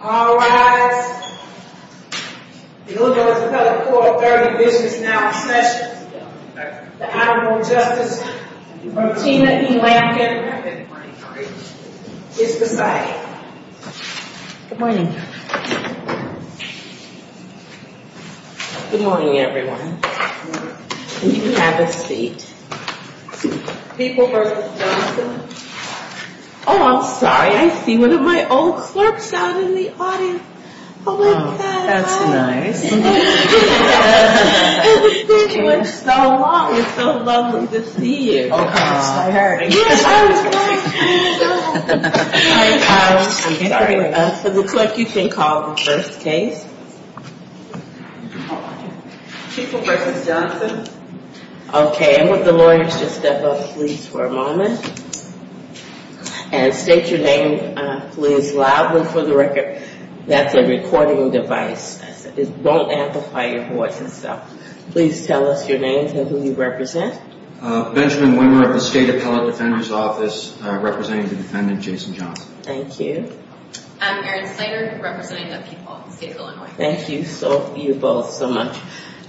Alright, we're looking at another 4.30 Business Now session. The Honorable Justice Martina E. Lampkin is presiding. Good morning. Good morning everyone. You can have a seat. People v. Johnson Oh, I'm sorry. I see one of my old clerks out in the audience. Oh my God. That's nice. It's been so long. It's so lovely to see you. I heard. It looks like you can call the first case. People v. Johnson Okay, I want the lawyers to step up please for a moment. And state your name please loudly for the record. That's a recording device. It won't amplify your voice. Please tell us your name and who you represent. Benjamin Wimmer of the State Appellate Defender's Office, representing the defendant, Jason Johnson. Thank you. Erin Slater, representing the people of the state of Illinois. Thank you both so much.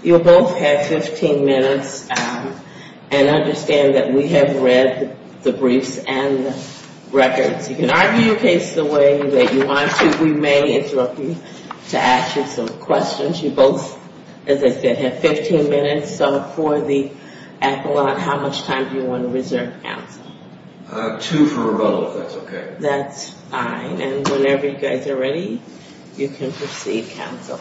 You both have 15 minutes and understand that we have read the briefs and records. You can argue your case the way that you want to. We may interrupt you to ask you some questions. You both, as I said, have 15 minutes. So for the appellate, how much time do you want to reserve counsel? Two for rebuttal if that's okay. And whenever you guys are ready, you can proceed, counsel.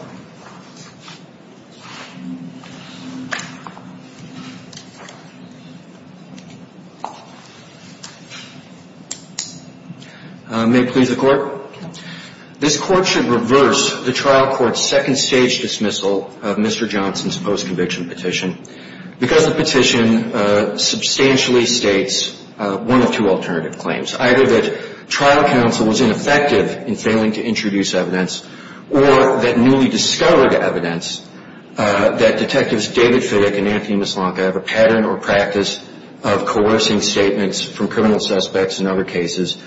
May it please the court? This court should reverse the trial court's second stage dismissal of Mr. Johnson's post-conviction petition because the petition substantially states one of two alternative claims, either that trial counsel was ineffective in failing to introduce evidence, or that newly discovered evidence that Detectives David Fittick and Anthony Mislanka have a pattern or practice of coercing statements from criminal suspects in other cases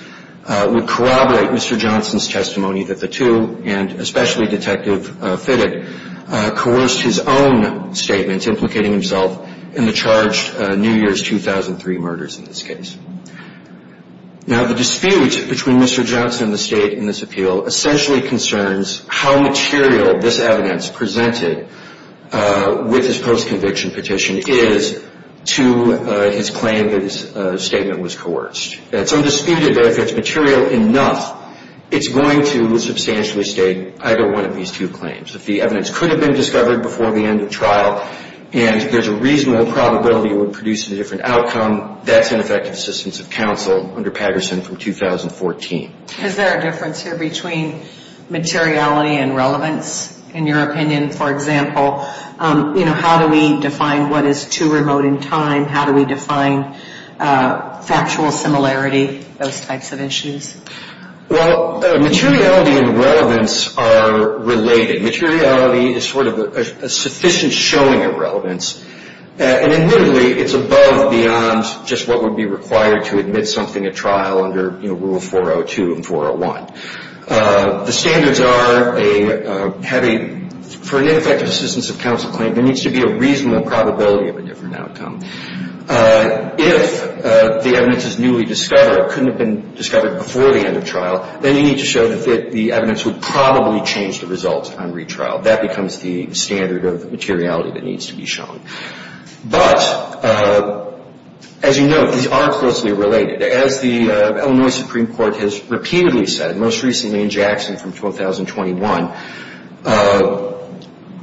would corroborate Mr. Johnson's testimony that the two, and especially Detective Fittick, coerced his own statements implicating himself in the charged New Year's 2003 murders in this case. Now the dispute between Mr. Johnson and the state in this appeal essentially concerns how material this evidence presented with his post-conviction petition is to his claim that his statement was coerced. It's undisputed that if it's material enough, it's going to substantially state either one of these two claims. If the evidence could have been discovered before the end of trial, and there's a reasonable probability it would produce a different outcome, that's ineffective assistance of counsel under Patterson from 2014. Is there a difference here between materiality and relevance in your opinion? For example, you know, how do we define what is too remote in time? How do we define factual similarity, those types of issues? Well, materiality and relevance are related. Materiality is sort of a sufficient showing of relevance. And admittedly, it's above, beyond just what would be required to admit something at trial under Rule 402 and 401. The standards are for an ineffective assistance of counsel claim, there needs to be a reasonable probability of a different outcome. If the evidence is newly discovered, couldn't have been discovered before the end of trial, then you need to show that the evidence would probably change the results on retrial. That becomes the standard of materiality that needs to be shown. But as you know, these are closely related. As the Illinois Supreme Court has repeatedly said, most recently in Jackson from 2021,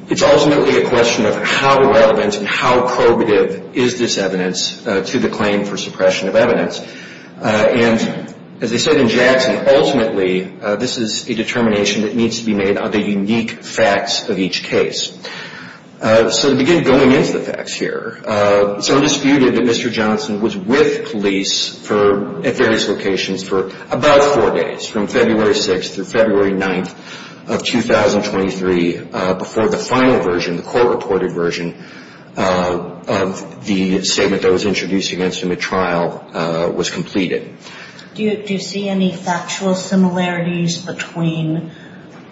it's ultimately a question of how relevant and how probative is this evidence to the claim for suppression of evidence. And as they said in Jackson, ultimately this is a determination that needs to be made on the unique facts of each case. So to begin going into the facts here, it's undisputed that Mr. Johnson was with police at various locations for about four days, from February 6th through February 9th of 2023, before the final version, the court-reported version, of the statement that was introduced against him at trial was completed. Do you see any factual similarities between,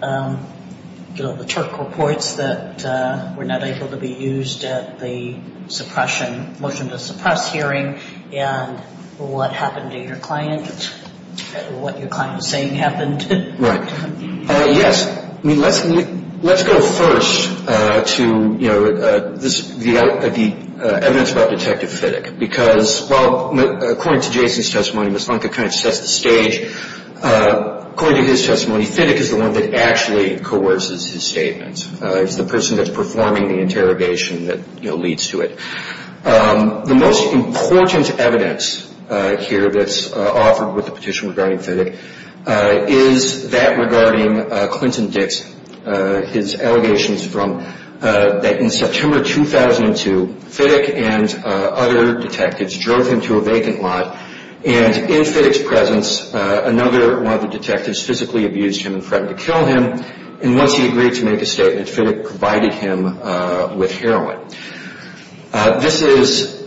you know, the Turk reports that were not able to be used at the suppression, motion to suppress hearing and what happened to your client, what your client was saying happened? Right. Yes. I mean, let's go first to, you know, the evidence about Detective Fittick. Because, well, according to Jason's testimony, Ms. Funke kind of sets the stage. According to his testimony, Fittick is the one that actually coerces his statements. He's the person that's performing the interrogation that, you know, leads to it. The most important evidence here that's offered with the petition regarding Fittick is that regarding Clinton Dix, his allegations from that in September 2002, Fittick and other detectives drove him to a vacant lot. And in Fittick's presence, another one of the detectives physically abused him and threatened to kill him. And once he agreed to make a statement, Fittick provided him with heroin. This is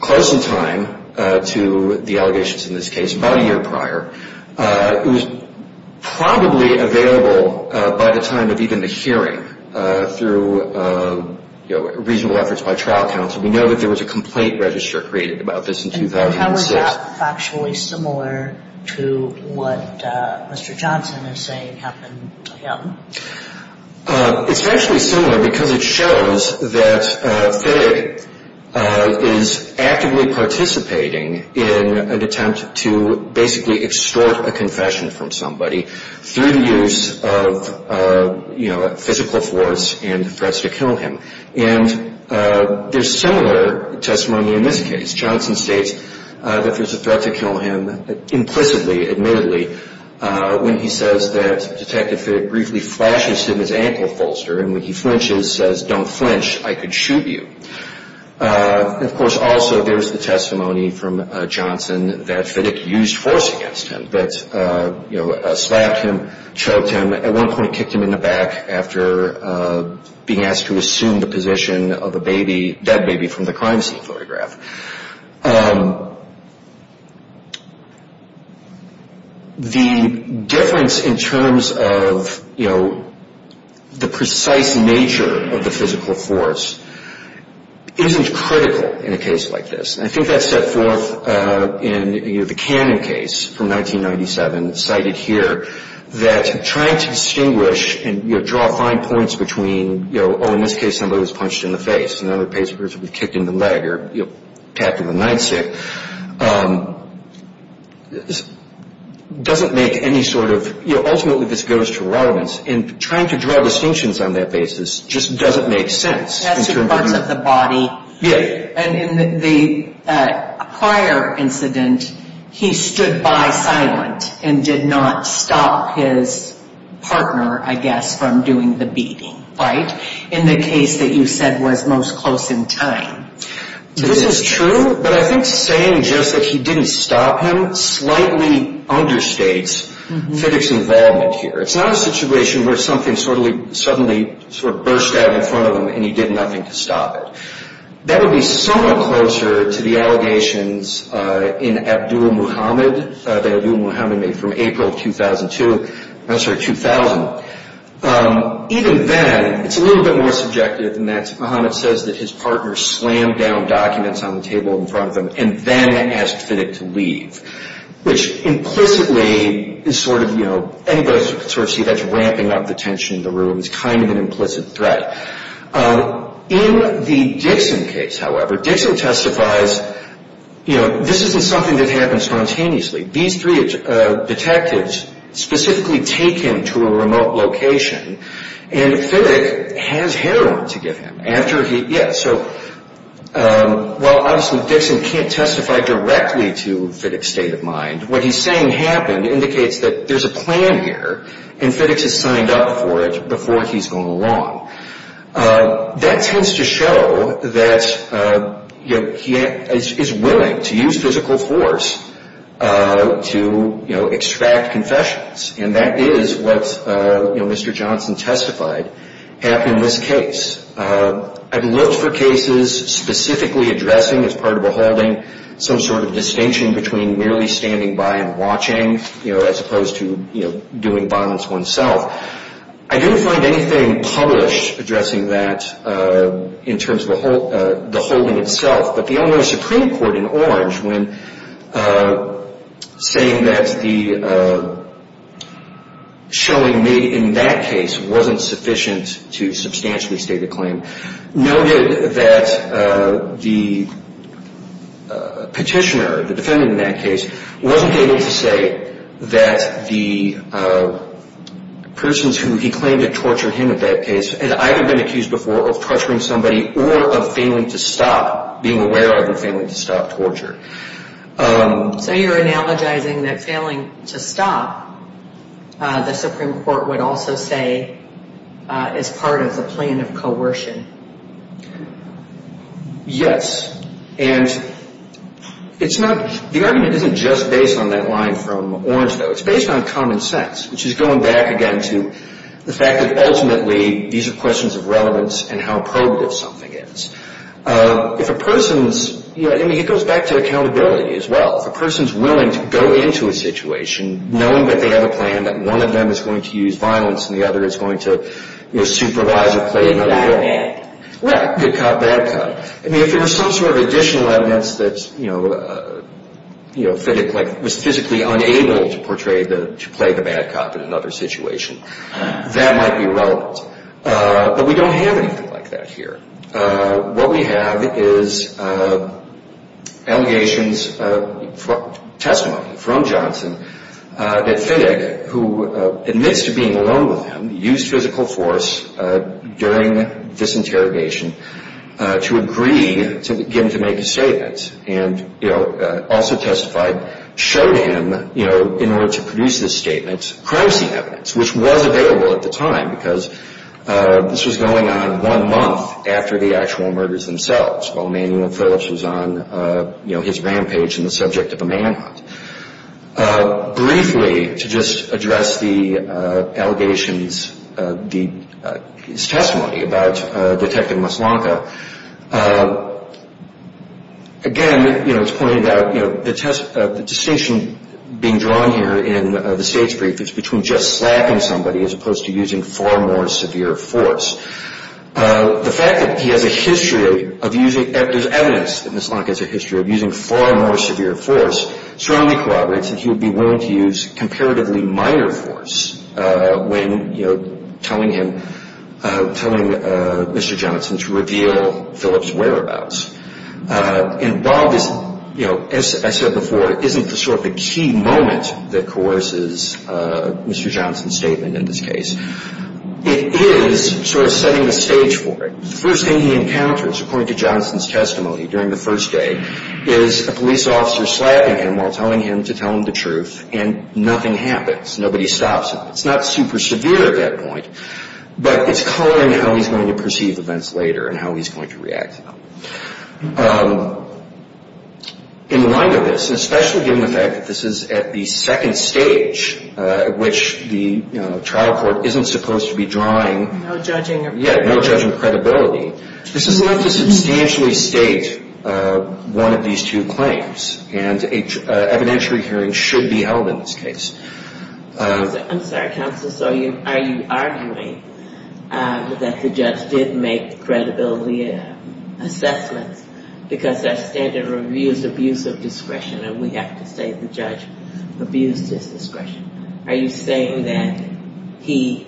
close in time to the allegations in this case, about a year prior. It was probably available by the time of even the hearing through, you know, reasonable efforts by trial counsel. We know that there was a complaint register created about this in 2006. Is that factually similar to what Mr. Johnson is saying happened to him? It's actually similar because it shows that Fittick is actively participating in an attempt to basically extort a confession from somebody through the use of, you know, physical force and threats to kill him. And there's similar testimony in this case. Johnson states that there's a threat to kill him implicitly, admittedly, when he says that Detective Fittick briefly flashes him his ankle bolster and when he flinches says, don't flinch, I could shoot you. And, of course, also there's the testimony from Johnson that Fittick used force against him, that, you know, slapped him, choked him, at one point kicked him in the back after being asked to assume the position of a baby, dead baby from the crime scene photograph. The difference in terms of, you know, the precise nature of the physical force isn't critical in a case like this. And I think that's set forth in, you know, the Cannon case from 1997, cited here, that trying to distinguish and, you know, draw fine points between, you know, oh, in this case somebody was punched in the face and the other person was kicked in the leg or, you know, tapped in the nightstick, doesn't make any sort of, you know, ultimately this goes to relevance. And trying to draw distinctions on that basis just doesn't make sense. That's two parts of the body. Yeah. And in the prior incident, he stood by silent and did not stop his partner, I guess, from doing the beating, right? In the case that you said was most close in time. This is true. But I think saying just that he didn't stop him slightly understates Fiddick's involvement here. It's not a situation where something suddenly sort of burst out in front of him and he did nothing to stop it. That would be somewhat closer to the allegations in Abdul Muhammad, that Abdul Muhammad made from April 2002, I'm sorry, 2000. Even then, it's a little bit more subjective than that. Muhammad says that his partner slammed down documents on the table in front of him and then asked Fiddick to leave, which implicitly is sort of, you know, anybody who can sort of see that's ramping up the tension in the room. It's kind of an implicit threat. In the Dixon case, however, Dixon testifies, you know, this isn't something that happened spontaneously. These three detectives specifically take him to a remote location and Fiddick has heroin to give him. After he, yeah, so while obviously Dixon can't testify directly to Fiddick's state of mind, what he's saying happened indicates that there's a plan here and Fiddick has signed up for it before he's gone along. That tends to show that, you know, he is willing to use physical force to, you know, extract confessions, and that is what, you know, Mr. Johnson testified happened in this case. I've looked for cases specifically addressing as part of a holding some sort of distinction between merely standing by and watching, you know, as opposed to, you know, doing violence oneself. I didn't find anything published addressing that in terms of the holding itself, but the Illinois Supreme Court in Orange, when saying that the showing made in that case wasn't sufficient to substantially state a claim, noted that the petitioner, the defendant in that case, wasn't able to say that the persons who he claimed had tortured him in that case had either been accused before of torturing somebody or of failing to stop, being aware of and failing to stop torture. So you're analogizing that failing to stop, the Supreme Court would also say, is part of the plan of coercion. Yes, and it's not, the argument isn't just based on that line from Orange, though. It's based on common sense, which is going back again to the fact that ultimately these are questions of relevance and how probative something is. If a person's, I mean, it goes back to accountability as well. If a person's willing to go into a situation knowing that they have a plan that one of them is going to use violence and the other is going to, you know, supervise or play another role. Good cop, bad cop. Right, good cop, bad cop. I mean, if there was some sort of additional evidence that, you know, you know, physically, like was physically unable to portray the, to play the bad cop in another situation, that might be relevant. But we don't have anything like that here. What we have is allegations, testimony from Johnson that Finick, who admits to being alone with him, used physical force during this interrogation to agree to get him to make a statement and, you know, also testified, showed him, you know, in order to produce this statement, which was available at the time because this was going on one month after the actual murders themselves, while Manuel Phillips was on, you know, his rampage in the subject of a manhunt. Briefly, to just address the allegations, his testimony about Detective Maslanka, again, you know, it's pointed out, you know, the distinction being drawn here in the stage brief is between just slapping somebody as opposed to using far more severe force. The fact that he has a history of using, there's evidence that Maslanka has a history of using far more severe force, strongly corroborates that he would be willing to use comparatively minor force when, you know, telling him, telling Mr. Johnson to reveal Phillips' whereabouts. And while this, you know, as I said before, isn't the sort of the key moment that coerces Mr. Johnson's statement in this case, it is sort of setting the stage for it. The first thing he encounters, according to Johnson's testimony during the first day, is a police officer slapping him while telling him to tell him the truth, and nothing happens. Nobody stops him. It's not super severe at that point, but it's coloring how he's going to perceive events later and how he's going to react to them. In light of this, especially given the fact that this is at the second stage, which the trial court isn't supposed to be drawing. No judging. Yeah, no judging credibility. This is enough to substantially state one of these two claims, and evidentiary hearing should be held in this case. I'm sorry, counsel, so are you arguing that the judge did make credibility assessments because our standard of review is abuse of discretion, and we have to say the judge abused his discretion. Are you saying that he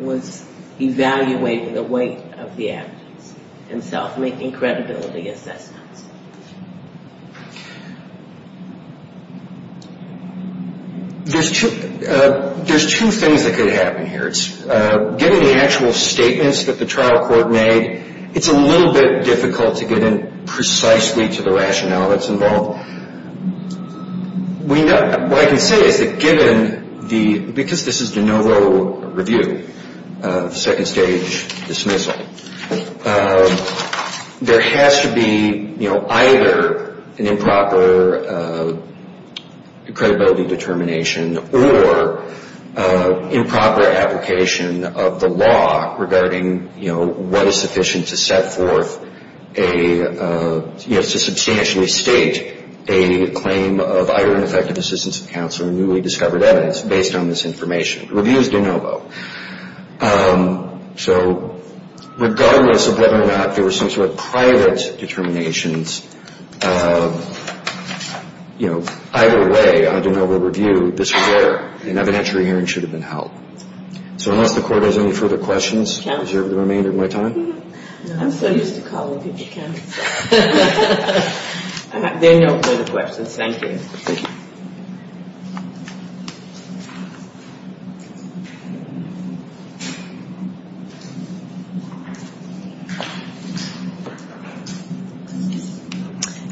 was evaluating the weight of the evidence and self-making credibility assessments? There's two things that could happen here. Given the actual statements that the trial court made, it's a little bit difficult to get in precisely to the rationale that's involved. What I can say is that given the, because this is de novo review, second stage dismissal, there has to be either an improper credibility determination or improper application of the law regarding what is sufficient to set forth a, to substantially state a claim of either ineffective assistance of counsel or newly discovered evidence based on this information. Review is de novo. So regardless of whether or not there were some sort of private determinations, either way, on a de novo review, this is where an evidentiary hearing should have been held. So unless the court has any further questions, is there any time? I'm so used to calling people candidates. There are no further questions. Thank you. Thank you.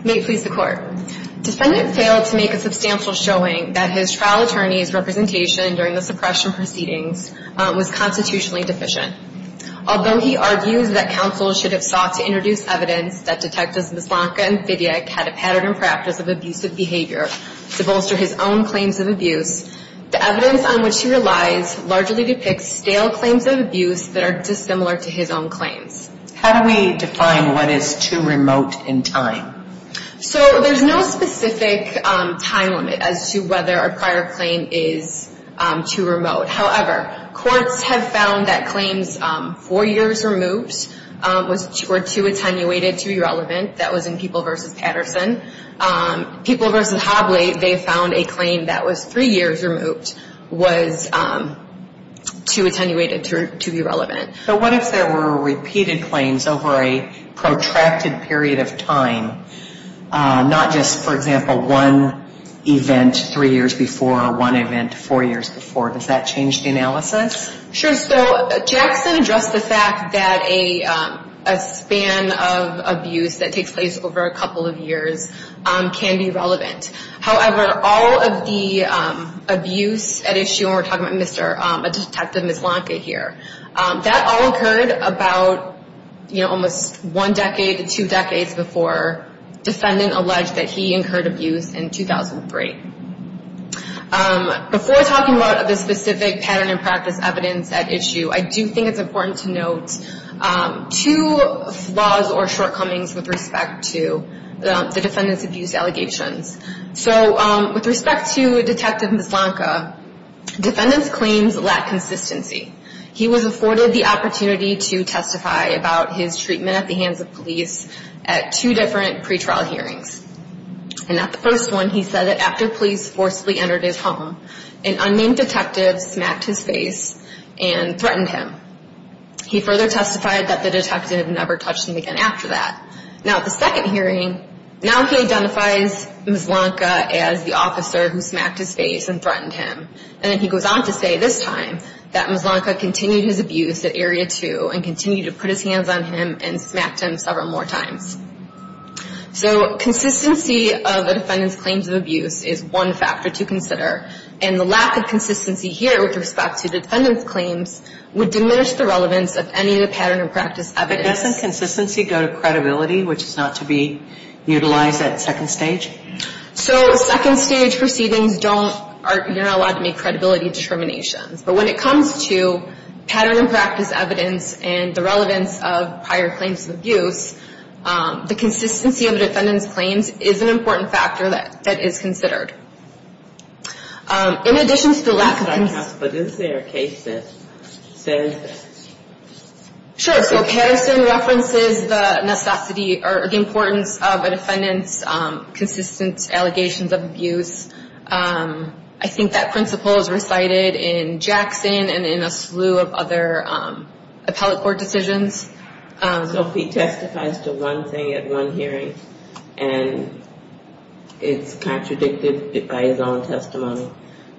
May it please the Court. Defendant failed to make a substantial showing that his trial attorney's representation during the suppression proceedings was constitutionally deficient. Although he argues that counsel should have sought to introduce evidence that Detectives Mislanka and Vidyak had a pattern and practice of abusive behavior to bolster his own claims of abuse, the evidence on which he relies largely depicts stale claims of abuse that are dissimilar to his own claims. How do we define what is too remote in time? So there's no specific time limit as to whether a prior claim is too remote. However, courts have found that claims four years removed were too attenuated to be relevant. That was in People v. Patterson. People v. Hobley, they found a claim that was three years removed was too attenuated to be relevant. But what if there were repeated claims over a protracted period of time, not just, for example, one event three years before or one event four years before? Does that change the analysis? Sure. So Jackson addressed the fact that a span of abuse that takes place over a couple of years can be relevant. However, all of the abuse at issue, and we're talking about a Detective Mislanka here, that all occurred about almost one decade to two decades before defendant alleged that he incurred abuse in 2003. Before talking about the specific pattern and practice evidence at issue, I do think it's important to note two flaws or shortcomings with respect to the defendant's abuse allegations. So with respect to Detective Mislanka, defendant's claims lack consistency. He was afforded the opportunity to testify about his treatment at the hands of police at two different pretrial hearings. And at the first one, he said that after police forcefully entered his home, an unnamed detective smacked his face and threatened him. He further testified that the detective never touched him again after that. Now at the second hearing, now he identifies Mislanka as the officer who smacked his face and threatened him. And then he goes on to say this time that Mislanka continued his abuse at Area 2 and continued to put his hands on him and smacked him several more times. So consistency of the defendant's claims of abuse is one factor to consider. And the lack of consistency here with respect to the defendant's claims would diminish the relevance of any of the pattern and practice evidence. But doesn't consistency go to credibility, which is not to be utilized at second stage? So second stage proceedings don't, you're not allowed to make credibility determinations. But when it comes to pattern and practice evidence and the relevance of prior claims of abuse, the consistency of the defendant's claims is an important factor that is considered. In addition to the lack of consistency... But isn't there a case that says... Sure, so Harrison references the necessity or the importance of a defendant's consistent allegations of abuse. I think that principle is recited in Jackson and in a slew of other appellate court decisions. So if he testifies to one thing at one hearing and it's contradicted by his own testimony,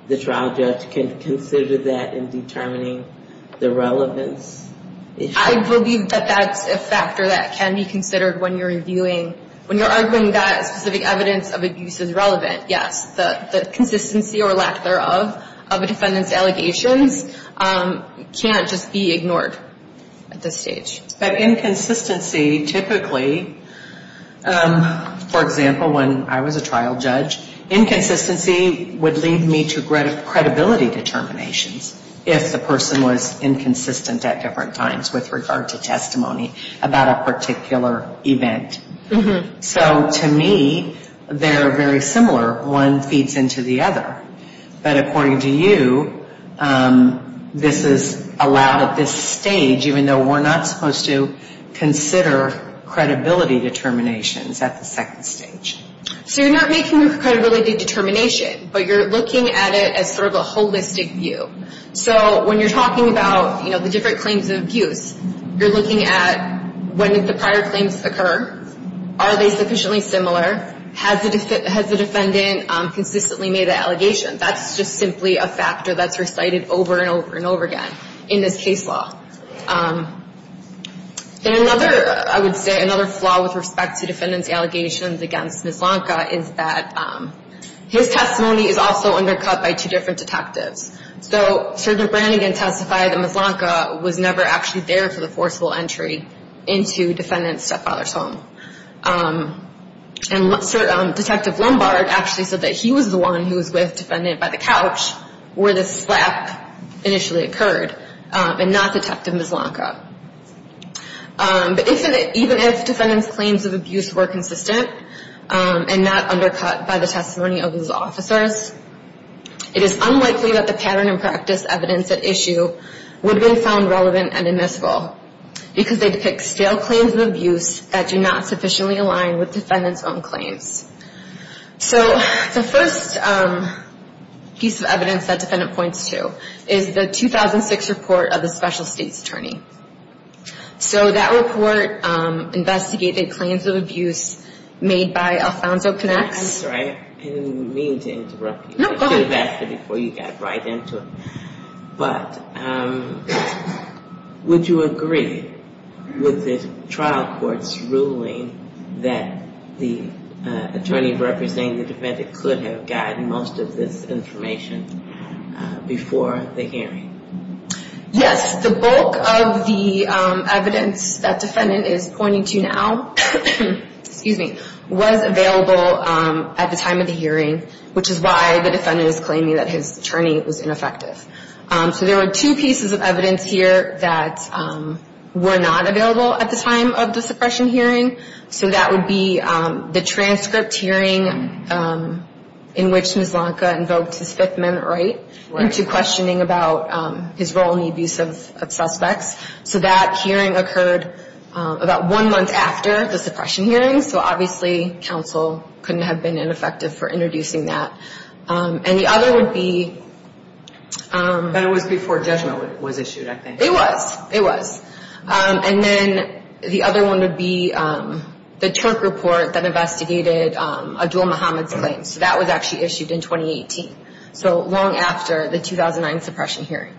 the trial judge can consider that in determining the relevance. I believe that that's a factor that can be considered when you're reviewing... Yes, the consistency or lack thereof of a defendant's allegations can't just be ignored at this stage. But inconsistency typically, for example, when I was a trial judge, inconsistency would lead me to credibility determinations if the person was inconsistent at different times with regard to testimony about a particular event. So to me, they're very similar. One feeds into the other. But according to you, this is allowed at this stage, even though we're not supposed to consider credibility determinations at the second stage. So you're not making a credibility determination, but you're looking at it as sort of a holistic view. So when you're talking about the different claims of abuse, you're looking at when did the prior claims occur? Are they sufficiently similar? Has the defendant consistently made an allegation? That's just simply a factor that's recited over and over and over again in this case law. Then another, I would say, another flaw with respect to defendant's allegations against Mislanka is that his testimony is also undercut by two different detectives. So Sergeant Brannigan testified that Mislanka was never actually there for the forcible entry into defendant's stepfather's home. And Detective Lombard actually said that he was the one who was with defendant by the couch where the slap initially occurred, and not Detective Mislanka. But even if defendant's claims of abuse were consistent and not undercut by the testimony of his officers, it is unlikely that the pattern and practice evidence at issue would have been found relevant and admissible because they depict stale claims of abuse that do not sufficiently align with defendant's own claims. So the first piece of evidence that defendant points to is the 2006 report of the special state's attorney. So that report investigated claims of abuse made by Alfonso Canex. I'm sorry, I didn't mean to interrupt you. No, go ahead. I should have asked it before you got right into it. But would you agree with the trial court's ruling that the attorney representing the defendant could have gotten most of this information before the hearing? Yes. The bulk of the evidence that defendant is pointing to now, excuse me, was available at the time of the hearing, which is why the defendant is claiming that his attorney was ineffective. So there were two pieces of evidence here that were not available at the time of the suppression hearing. So that would be the transcript hearing in which Mislanka invoked his Fifth Amendment right into questioning about his role in the abuse of suspects. So that hearing occurred about one month after the suppression hearing. So obviously, counsel couldn't have been ineffective for introducing that. And the other would be... But it was before judgment was issued, I think. It was. It was. And then the other one would be the Turk report that investigated Adul Mohammad's claims. So that was actually issued in 2018. So long after the 2009 suppression hearing.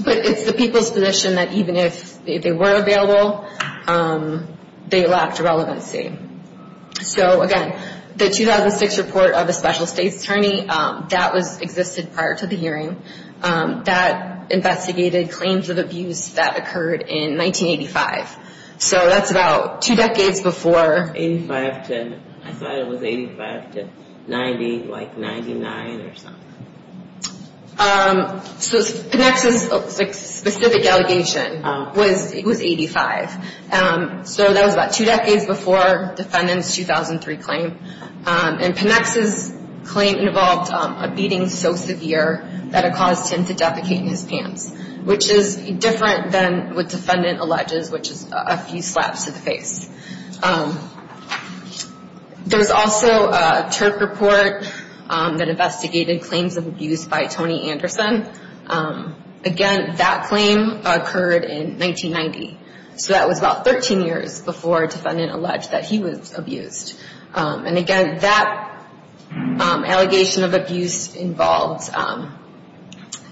But it's the people's position that even if they were available, they lacked relevancy. So again, the 2006 report of a special state's attorney, that existed prior to the hearing. That investigated claims of abuse that occurred in 1985. So that's about two decades before... I thought it was 85 to 90, like 99 or something. So Panex's specific allegation was 85. So that was about two decades before defendant's 2003 claim. And Panex's claim involved a beating so severe that it caused him to defecate in his pants. Which is different than what defendant alleges, which is a few slaps to the face. There's also a Turk report that investigated claims of abuse by Tony Anderson. Again, that claim occurred in 1990. So that was about 13 years before defendant alleged that he was abused. And again, that allegation of abuse involved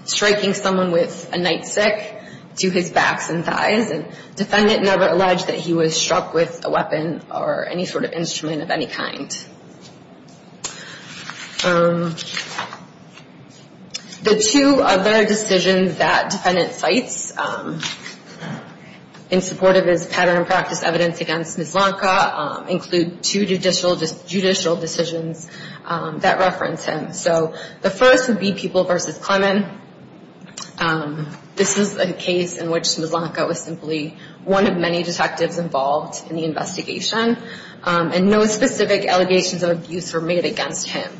striking someone with a nightstick to his backs and thighs. And defendant never alleged that he was struck with a weapon or any sort of instrument of any kind. The two other decisions that defendant cites in support of his pattern and practice evidence against Mislanka. Include two judicial decisions that reference him. So the first would be People v. Clemen. This is a case in which Mislanka was simply one of many detectives involved in the investigation. And no specific allegations of abuse were made against him.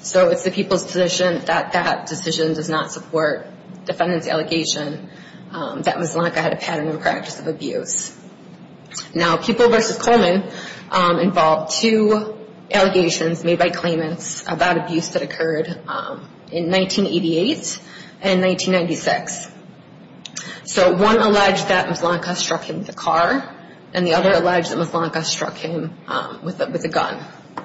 So it's the People's position that that decision does not support defendant's allegation that Mislanka had a pattern and practice of abuse. Now People v. Clemen involved two allegations made by claimants about abuse that occurred in 1988. And 1996. So one alleged that Mislanka struck him with a car. And the other alleged that Mislanka struck him with a gun.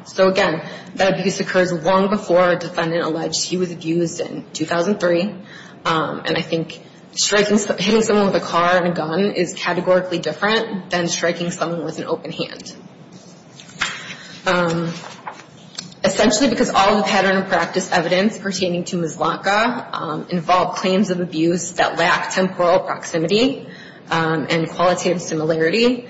So again, that abuse occurs long before defendant alleged he was abused in 2003. And I think hitting someone with a car and a gun is categorically different than striking someone with an open hand. Essentially because all the pattern and practice evidence pertaining to Mislanka involve claims of abuse that lack temporal proximity. And qualitative similarity.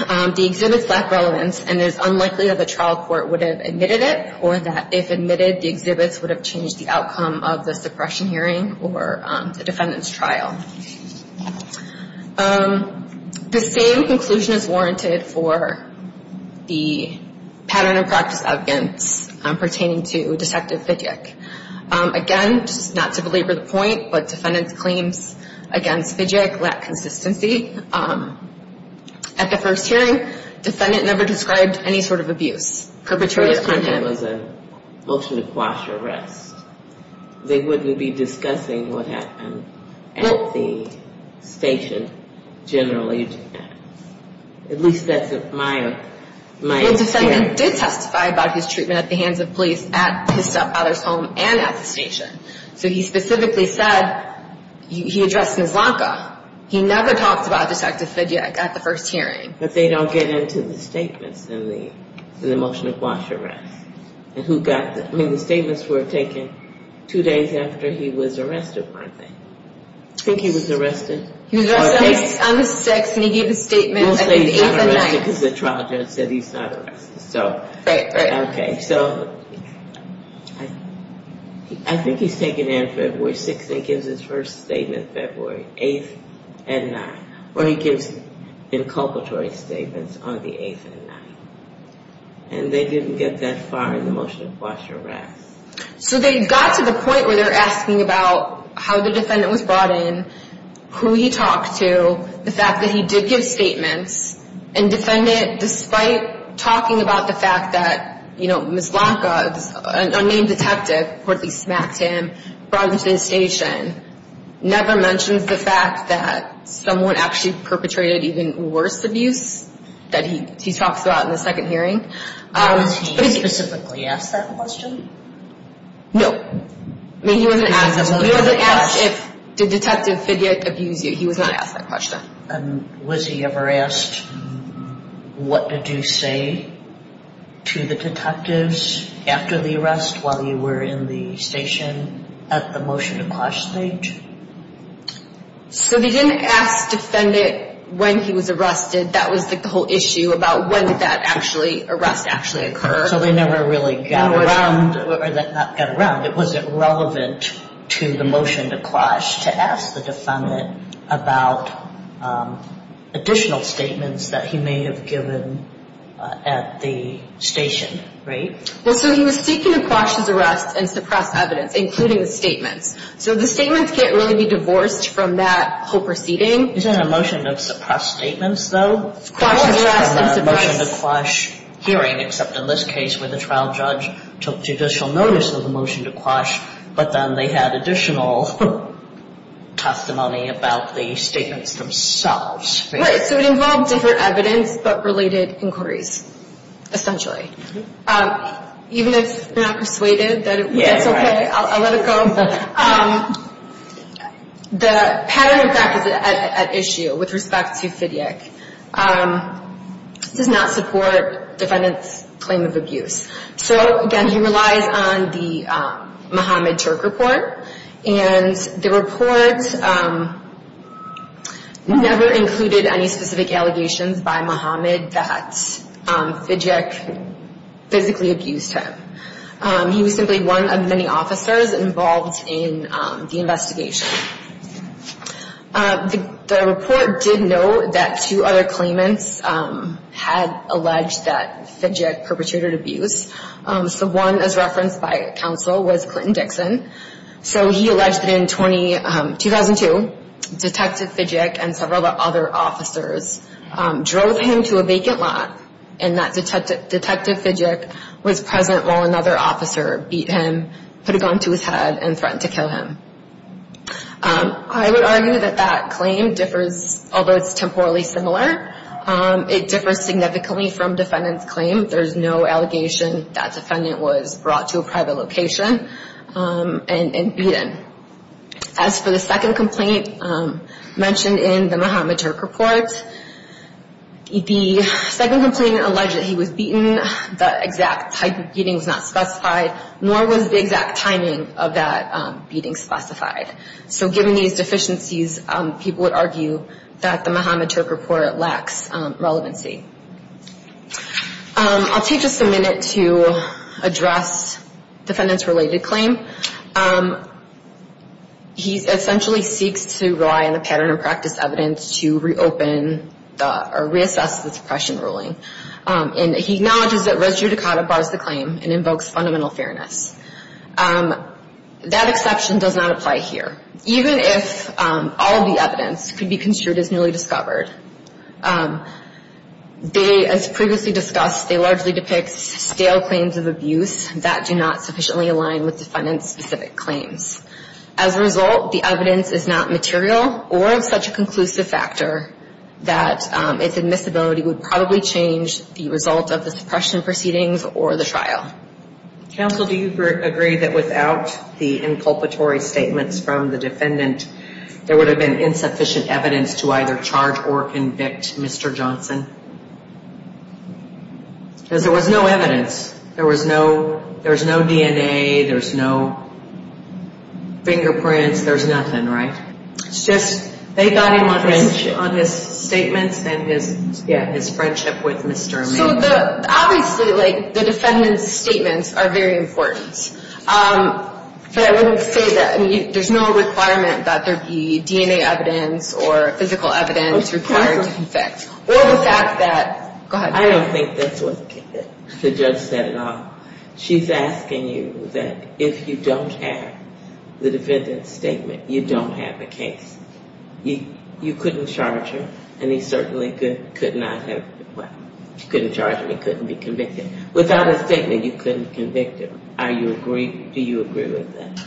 The exhibits lack relevance and it is unlikely that the trial court would have admitted it. Or that if admitted, the exhibits would have changed the outcome of the suppression hearing or the defendant's trial. The same conclusion is warranted for the pattern and practice evidence pertaining to Detective Fidjek. Again, just not to belabor the point, but defendant's claims against Fidjek lack consistency. At the first hearing, defendant never described any sort of abuse perpetrated on him. If there was a motion to quash arrest, they wouldn't be discussing what happened at the station generally. At least that's my experience. The defendant did testify about his treatment at the hands of police at his stepfather's home and at the station. So he specifically said he addressed Mislanka. He never talked about Detective Fidjek at the first hearing. But they don't get into the statements in the motion to quash arrest. The statements were taken two days after he was arrested, weren't they? I think he was arrested. He was arrested on the 6th and he gave a statement on the 8th and 9th. We'll say he's not arrested because the trial judge said he's not arrested. Right, right. Okay, so I think he's taken in February 6th and gives his first statement February 8th and 9th. Or he gives inculpatory statements on the 8th and 9th. And they didn't get that far in the motion to quash arrest. So they got to the point where they're asking about how the defendant was brought in, who he talked to, the fact that he did give statements. And the defendant, despite talking about the fact that Mislanka, an unnamed detective, reportedly smacked him, brought him to the station, never mentions the fact that someone actually perpetrated even worse abuse that he talks about in the second hearing. Was he specifically asked that question? No. He wasn't asked if Detective Fidjek abused you. He was not asked that question. And was he ever asked what did you say to the detectives after the arrest while you were in the station at the motion to quash stage? So they didn't ask the defendant when he was arrested. That was the whole issue about when did that arrest actually occur. So they never really got around. It wasn't relevant to the motion to quash to ask the defendant about additional statements that he may have given at the station, right? Well, so he was seeking to quash his arrest and suppress evidence, including the statements. So the statements can't really be divorced from that whole proceeding. Isn't a motion to suppress statements, though? The motion to quash hearing, except in this case where the trial judge took judicial notice of the motion to quash, but then they had additional testimony about the statements themselves. Right. So it involved different evidence but related inquiries, essentially. Even if you're not persuaded that it's okay, I'll let it go. The pattern of practice at issue with respect to Fidyik does not support the defendant's claim of abuse. So, again, he relies on the Mohammed Turk report. And the report never included any specific allegations by Mohammed that Fidyik physically abused him. He was simply one of many officers involved in the investigation. The report did note that two other claimants had alleged that Fidyik perpetrated abuse. So one, as referenced by counsel, was Clinton Dixon. So he alleged that in 2002, Detective Fidyik and several other officers drove him to a vacant lot and that Detective Fidyik was present while another officer beat him, put a gun to his head, and threatened to kill him. I would argue that that claim differs, although it's temporally similar, it differs significantly from defendant's claim. There's no allegation that defendant was brought to a private location and beaten. As for the second complaint mentioned in the Mohammed Turk report, the second complainant alleged that he was beaten. The exact type of beating was not specified, nor was the exact timing of that beating specified. So given these deficiencies, people would argue that the Mohammed Turk report lacks relevancy. I'll take just a minute to address defendant's related claim. He essentially seeks to rely on the pattern of practice evidence to reopen or reassess the suppression ruling. And he acknowledges that res judicata bars the claim and invokes fundamental fairness. That exception does not apply here. Even if all of the evidence could be construed as newly discovered, they, as previously discussed, they largely depict stale claims of abuse that do not sufficiently align with defendant's specific claims. As a result, the evidence is not material or of such a conclusive factor that its admissibility would probably change the result of the suppression proceedings or the trial. Counsel, do you agree that without the inculpatory statements from the defendant, there would have been insufficient evidence to either charge or convict Mr. Johnson? Because there was no evidence. There was no DNA. There's no fingerprints. There's nothing, right? It's just they got him on his statements and his friendship with Mr. Amin. So obviously, like, the defendant's statements are very important. But I wouldn't say that there's no requirement that there be DNA evidence or physical evidence required to convict. Or the fact that, go ahead. I don't think that's what the judge said at all. She's asking you that if you don't have the defendant's statement, you don't have a case. You couldn't charge him, and he certainly could not have, well, you couldn't charge him, he couldn't be convicted. Without his statement, you couldn't convict him. Do you agree with that?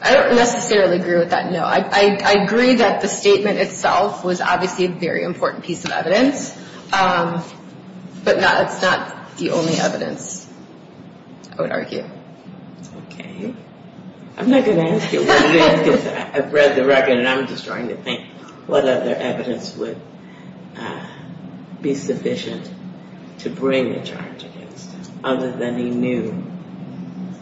I don't necessarily agree with that, no. I agree that the statement itself was obviously a very important piece of evidence. But it's not the only evidence, I would argue. Okay. I'm not going to ask you what it is because I've read the record, and I'm just trying to think what other evidence would be sufficient to bring the charge against, other than he knew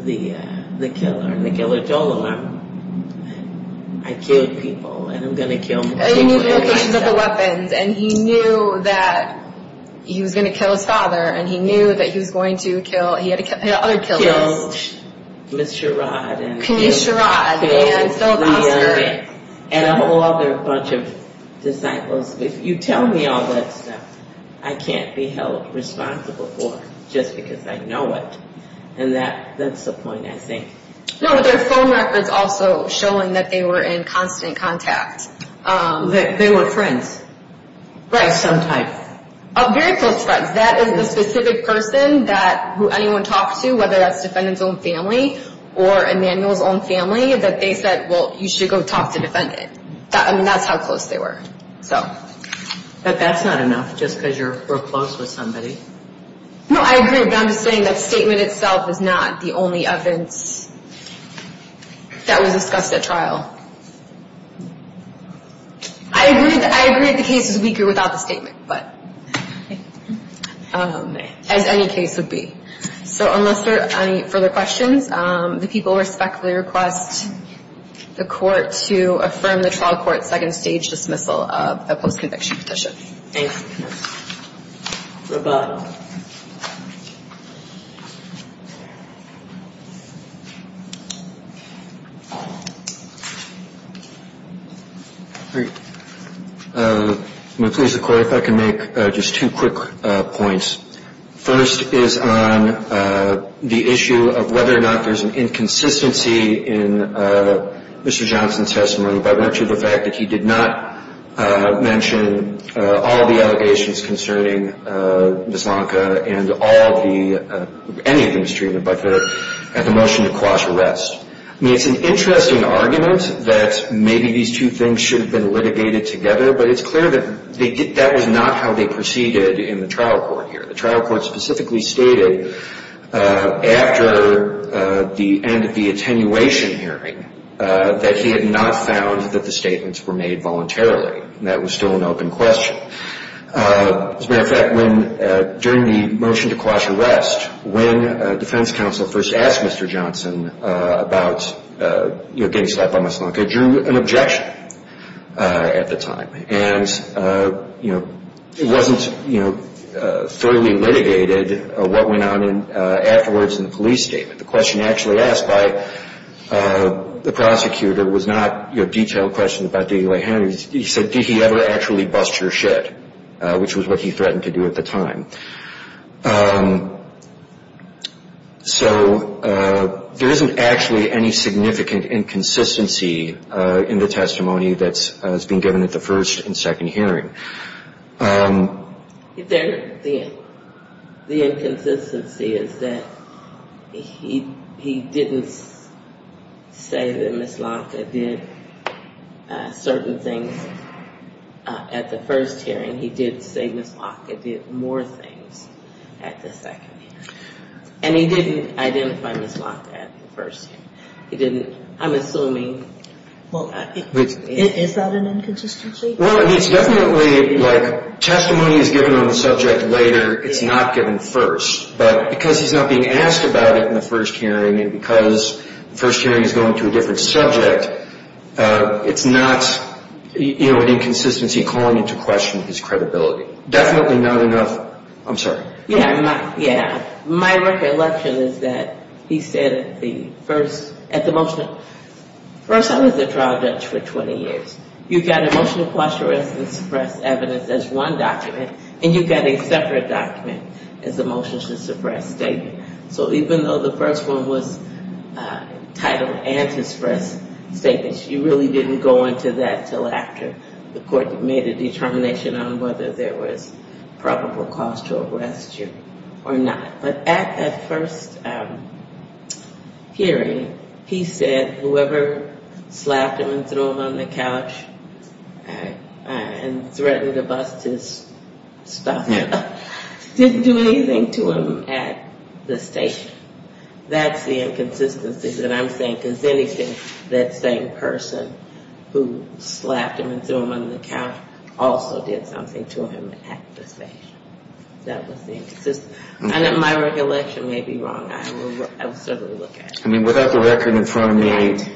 the killer, and the killer told him, I killed people, and I'm going to kill more people. And he knew the locations of the weapons, and he knew that he was going to kill his father, and he knew that he was going to kill, he had other killers. He killed Ms. Sherrod, and he killed Leon, and a whole other bunch of disciples. If you tell me all that stuff, I can't be held responsible for it just because I know it. And that's the point, I think. No, but there are phone records also showing that they were in constant contact. They were friends of some type. Very close friends. That is the specific person that anyone talks to, whether that's defendant's own family or Emanuel's own family, that they said, well, you should go talk to the defendant. I mean, that's how close they were. But that's not enough just because you're close with somebody. No, I agree, but I'm just saying that statement itself is not the only evidence that was discussed at trial. I agree that the case is weaker without the statement, as any case would be. So unless there are any further questions, the people respectfully request the court to affirm the trial court's second stage dismissal of the post-conviction petition. Thank you. Goodbye. I'm going to please the court if I can make just two quick points. First is on the issue of whether or not there's an inconsistency in Mr. Johnson's testimony by virtue of the fact that he did not mention all of the allegations concerning Ms. Lonka and all of the ‑‑ any of Ms. Treven, but the motion to coerce arrest. I mean, it's an interesting argument that maybe these two things should have been litigated together, but it's clear that that was not how they proceeded in the trial court here. The trial court specifically stated after the end of the attenuation hearing that he had not found that the statements were made voluntarily, and that was still an open question. As a matter of fact, when ‑‑ during the motion to coerce arrest, when defense counsel first asked Mr. Johnson about getting slapped by Ms. Lonka, it drew an objection at the time. And, you know, it wasn't, you know, thoroughly litigated what went on afterwards in the police statement. The question actually asked by the prosecutor was not, you know, detailed questions about digging away at his hands. He said, did he ever actually bust your shit? Which was what he threatened to do at the time. So there isn't actually any significant inconsistency in the testimony that's been given at the first and second hearing. The inconsistency is that he didn't say that Ms. Lonka did certain things at the first hearing. He did say Ms. Lonka did more things at the second hearing. And he didn't identify Ms. Lonka at the first hearing. He didn't ‑‑ I'm assuming ‑‑ Is that an inconsistency? Well, I mean, it's definitely, like, testimony is given on the subject later. It's not given first. But because he's not being asked about it in the first hearing, and because the first hearing is going to a different subject, it's not, you know, an inconsistency calling into question his credibility. Definitely not enough ‑‑ I'm sorry. Yeah. Yeah. My recollection is that he said the first, at the motion, first I was a trial judge for 20 years. You've got a motion to suppress evidence as one document, and you've got a separate document as a motion to suppress statement. So even though the first one was titled antispress statements, you really didn't go into that until after the court made a determination on whether there was probable cause to arrest you or not. But at that first hearing, he said whoever slapped him and threw him on the couch and threatened to bust his stuff up didn't do anything to him at the station. That's the inconsistency that I'm saying, because anything that same person who slapped him and threw him on the couch also did something to him at the station. That was the inconsistency. And if my recollection may be wrong, I will certainly look at it. I mean, without the record in front of me,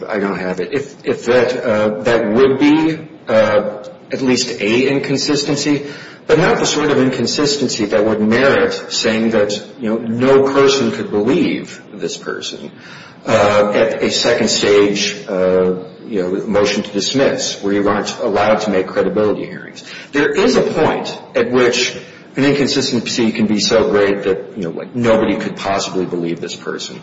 I don't have it. If that would be at least a inconsistency, but not the sort of inconsistency that would merit saying that, you know, no person could believe this person at a second stage, you know, motion to dismiss where you aren't allowed to make credibility hearings. There is a point at which an inconsistency can be so great that, you know, nobody could possibly believe this person.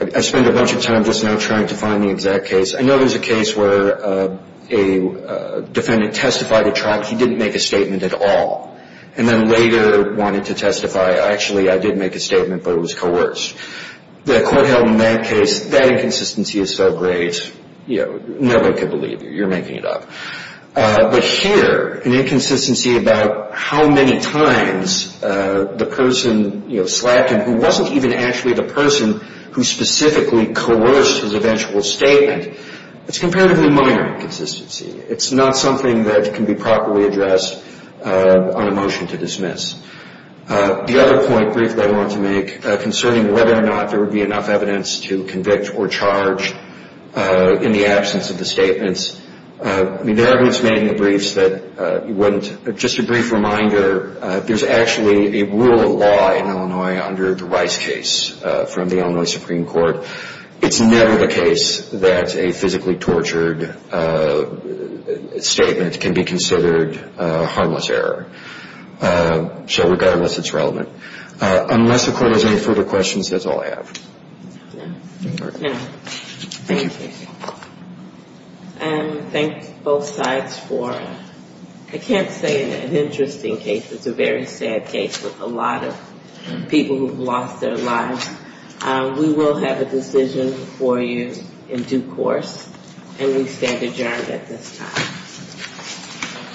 I spent a bunch of time just now trying to find the exact case. I know there's a case where a defendant testified to trial. He didn't make a statement at all, and then later wanted to testify. Actually, I did make a statement, but it was coerced. The court held in that case that inconsistency is so great, you know, nobody could believe you. You're making it up. But here, an inconsistency about how many times the person, you know, slapped him who wasn't even actually the person who specifically coerced his eventual statement, it's comparatively minor inconsistency. It's not something that can be properly addressed on a motion to dismiss. The other point briefly I want to make concerning whether or not there would be enough evidence to convict or charge in the absence of the statements, I mean, there are groups made in the briefs that wouldn't. Just a brief reminder, there's actually a rule of law in Illinois under the Rice case from the Illinois Supreme Court. It's never the case that a physically tortured statement can be considered a harmless error. So regardless, it's relevant. Unless the court has any further questions, that's all I have. No. Thank you. And thank both sides for, I can't say an interesting case. It's a very sad case with a lot of people who have lost their lives. We will have a decision for you in due course, and we stand adjourned at this time.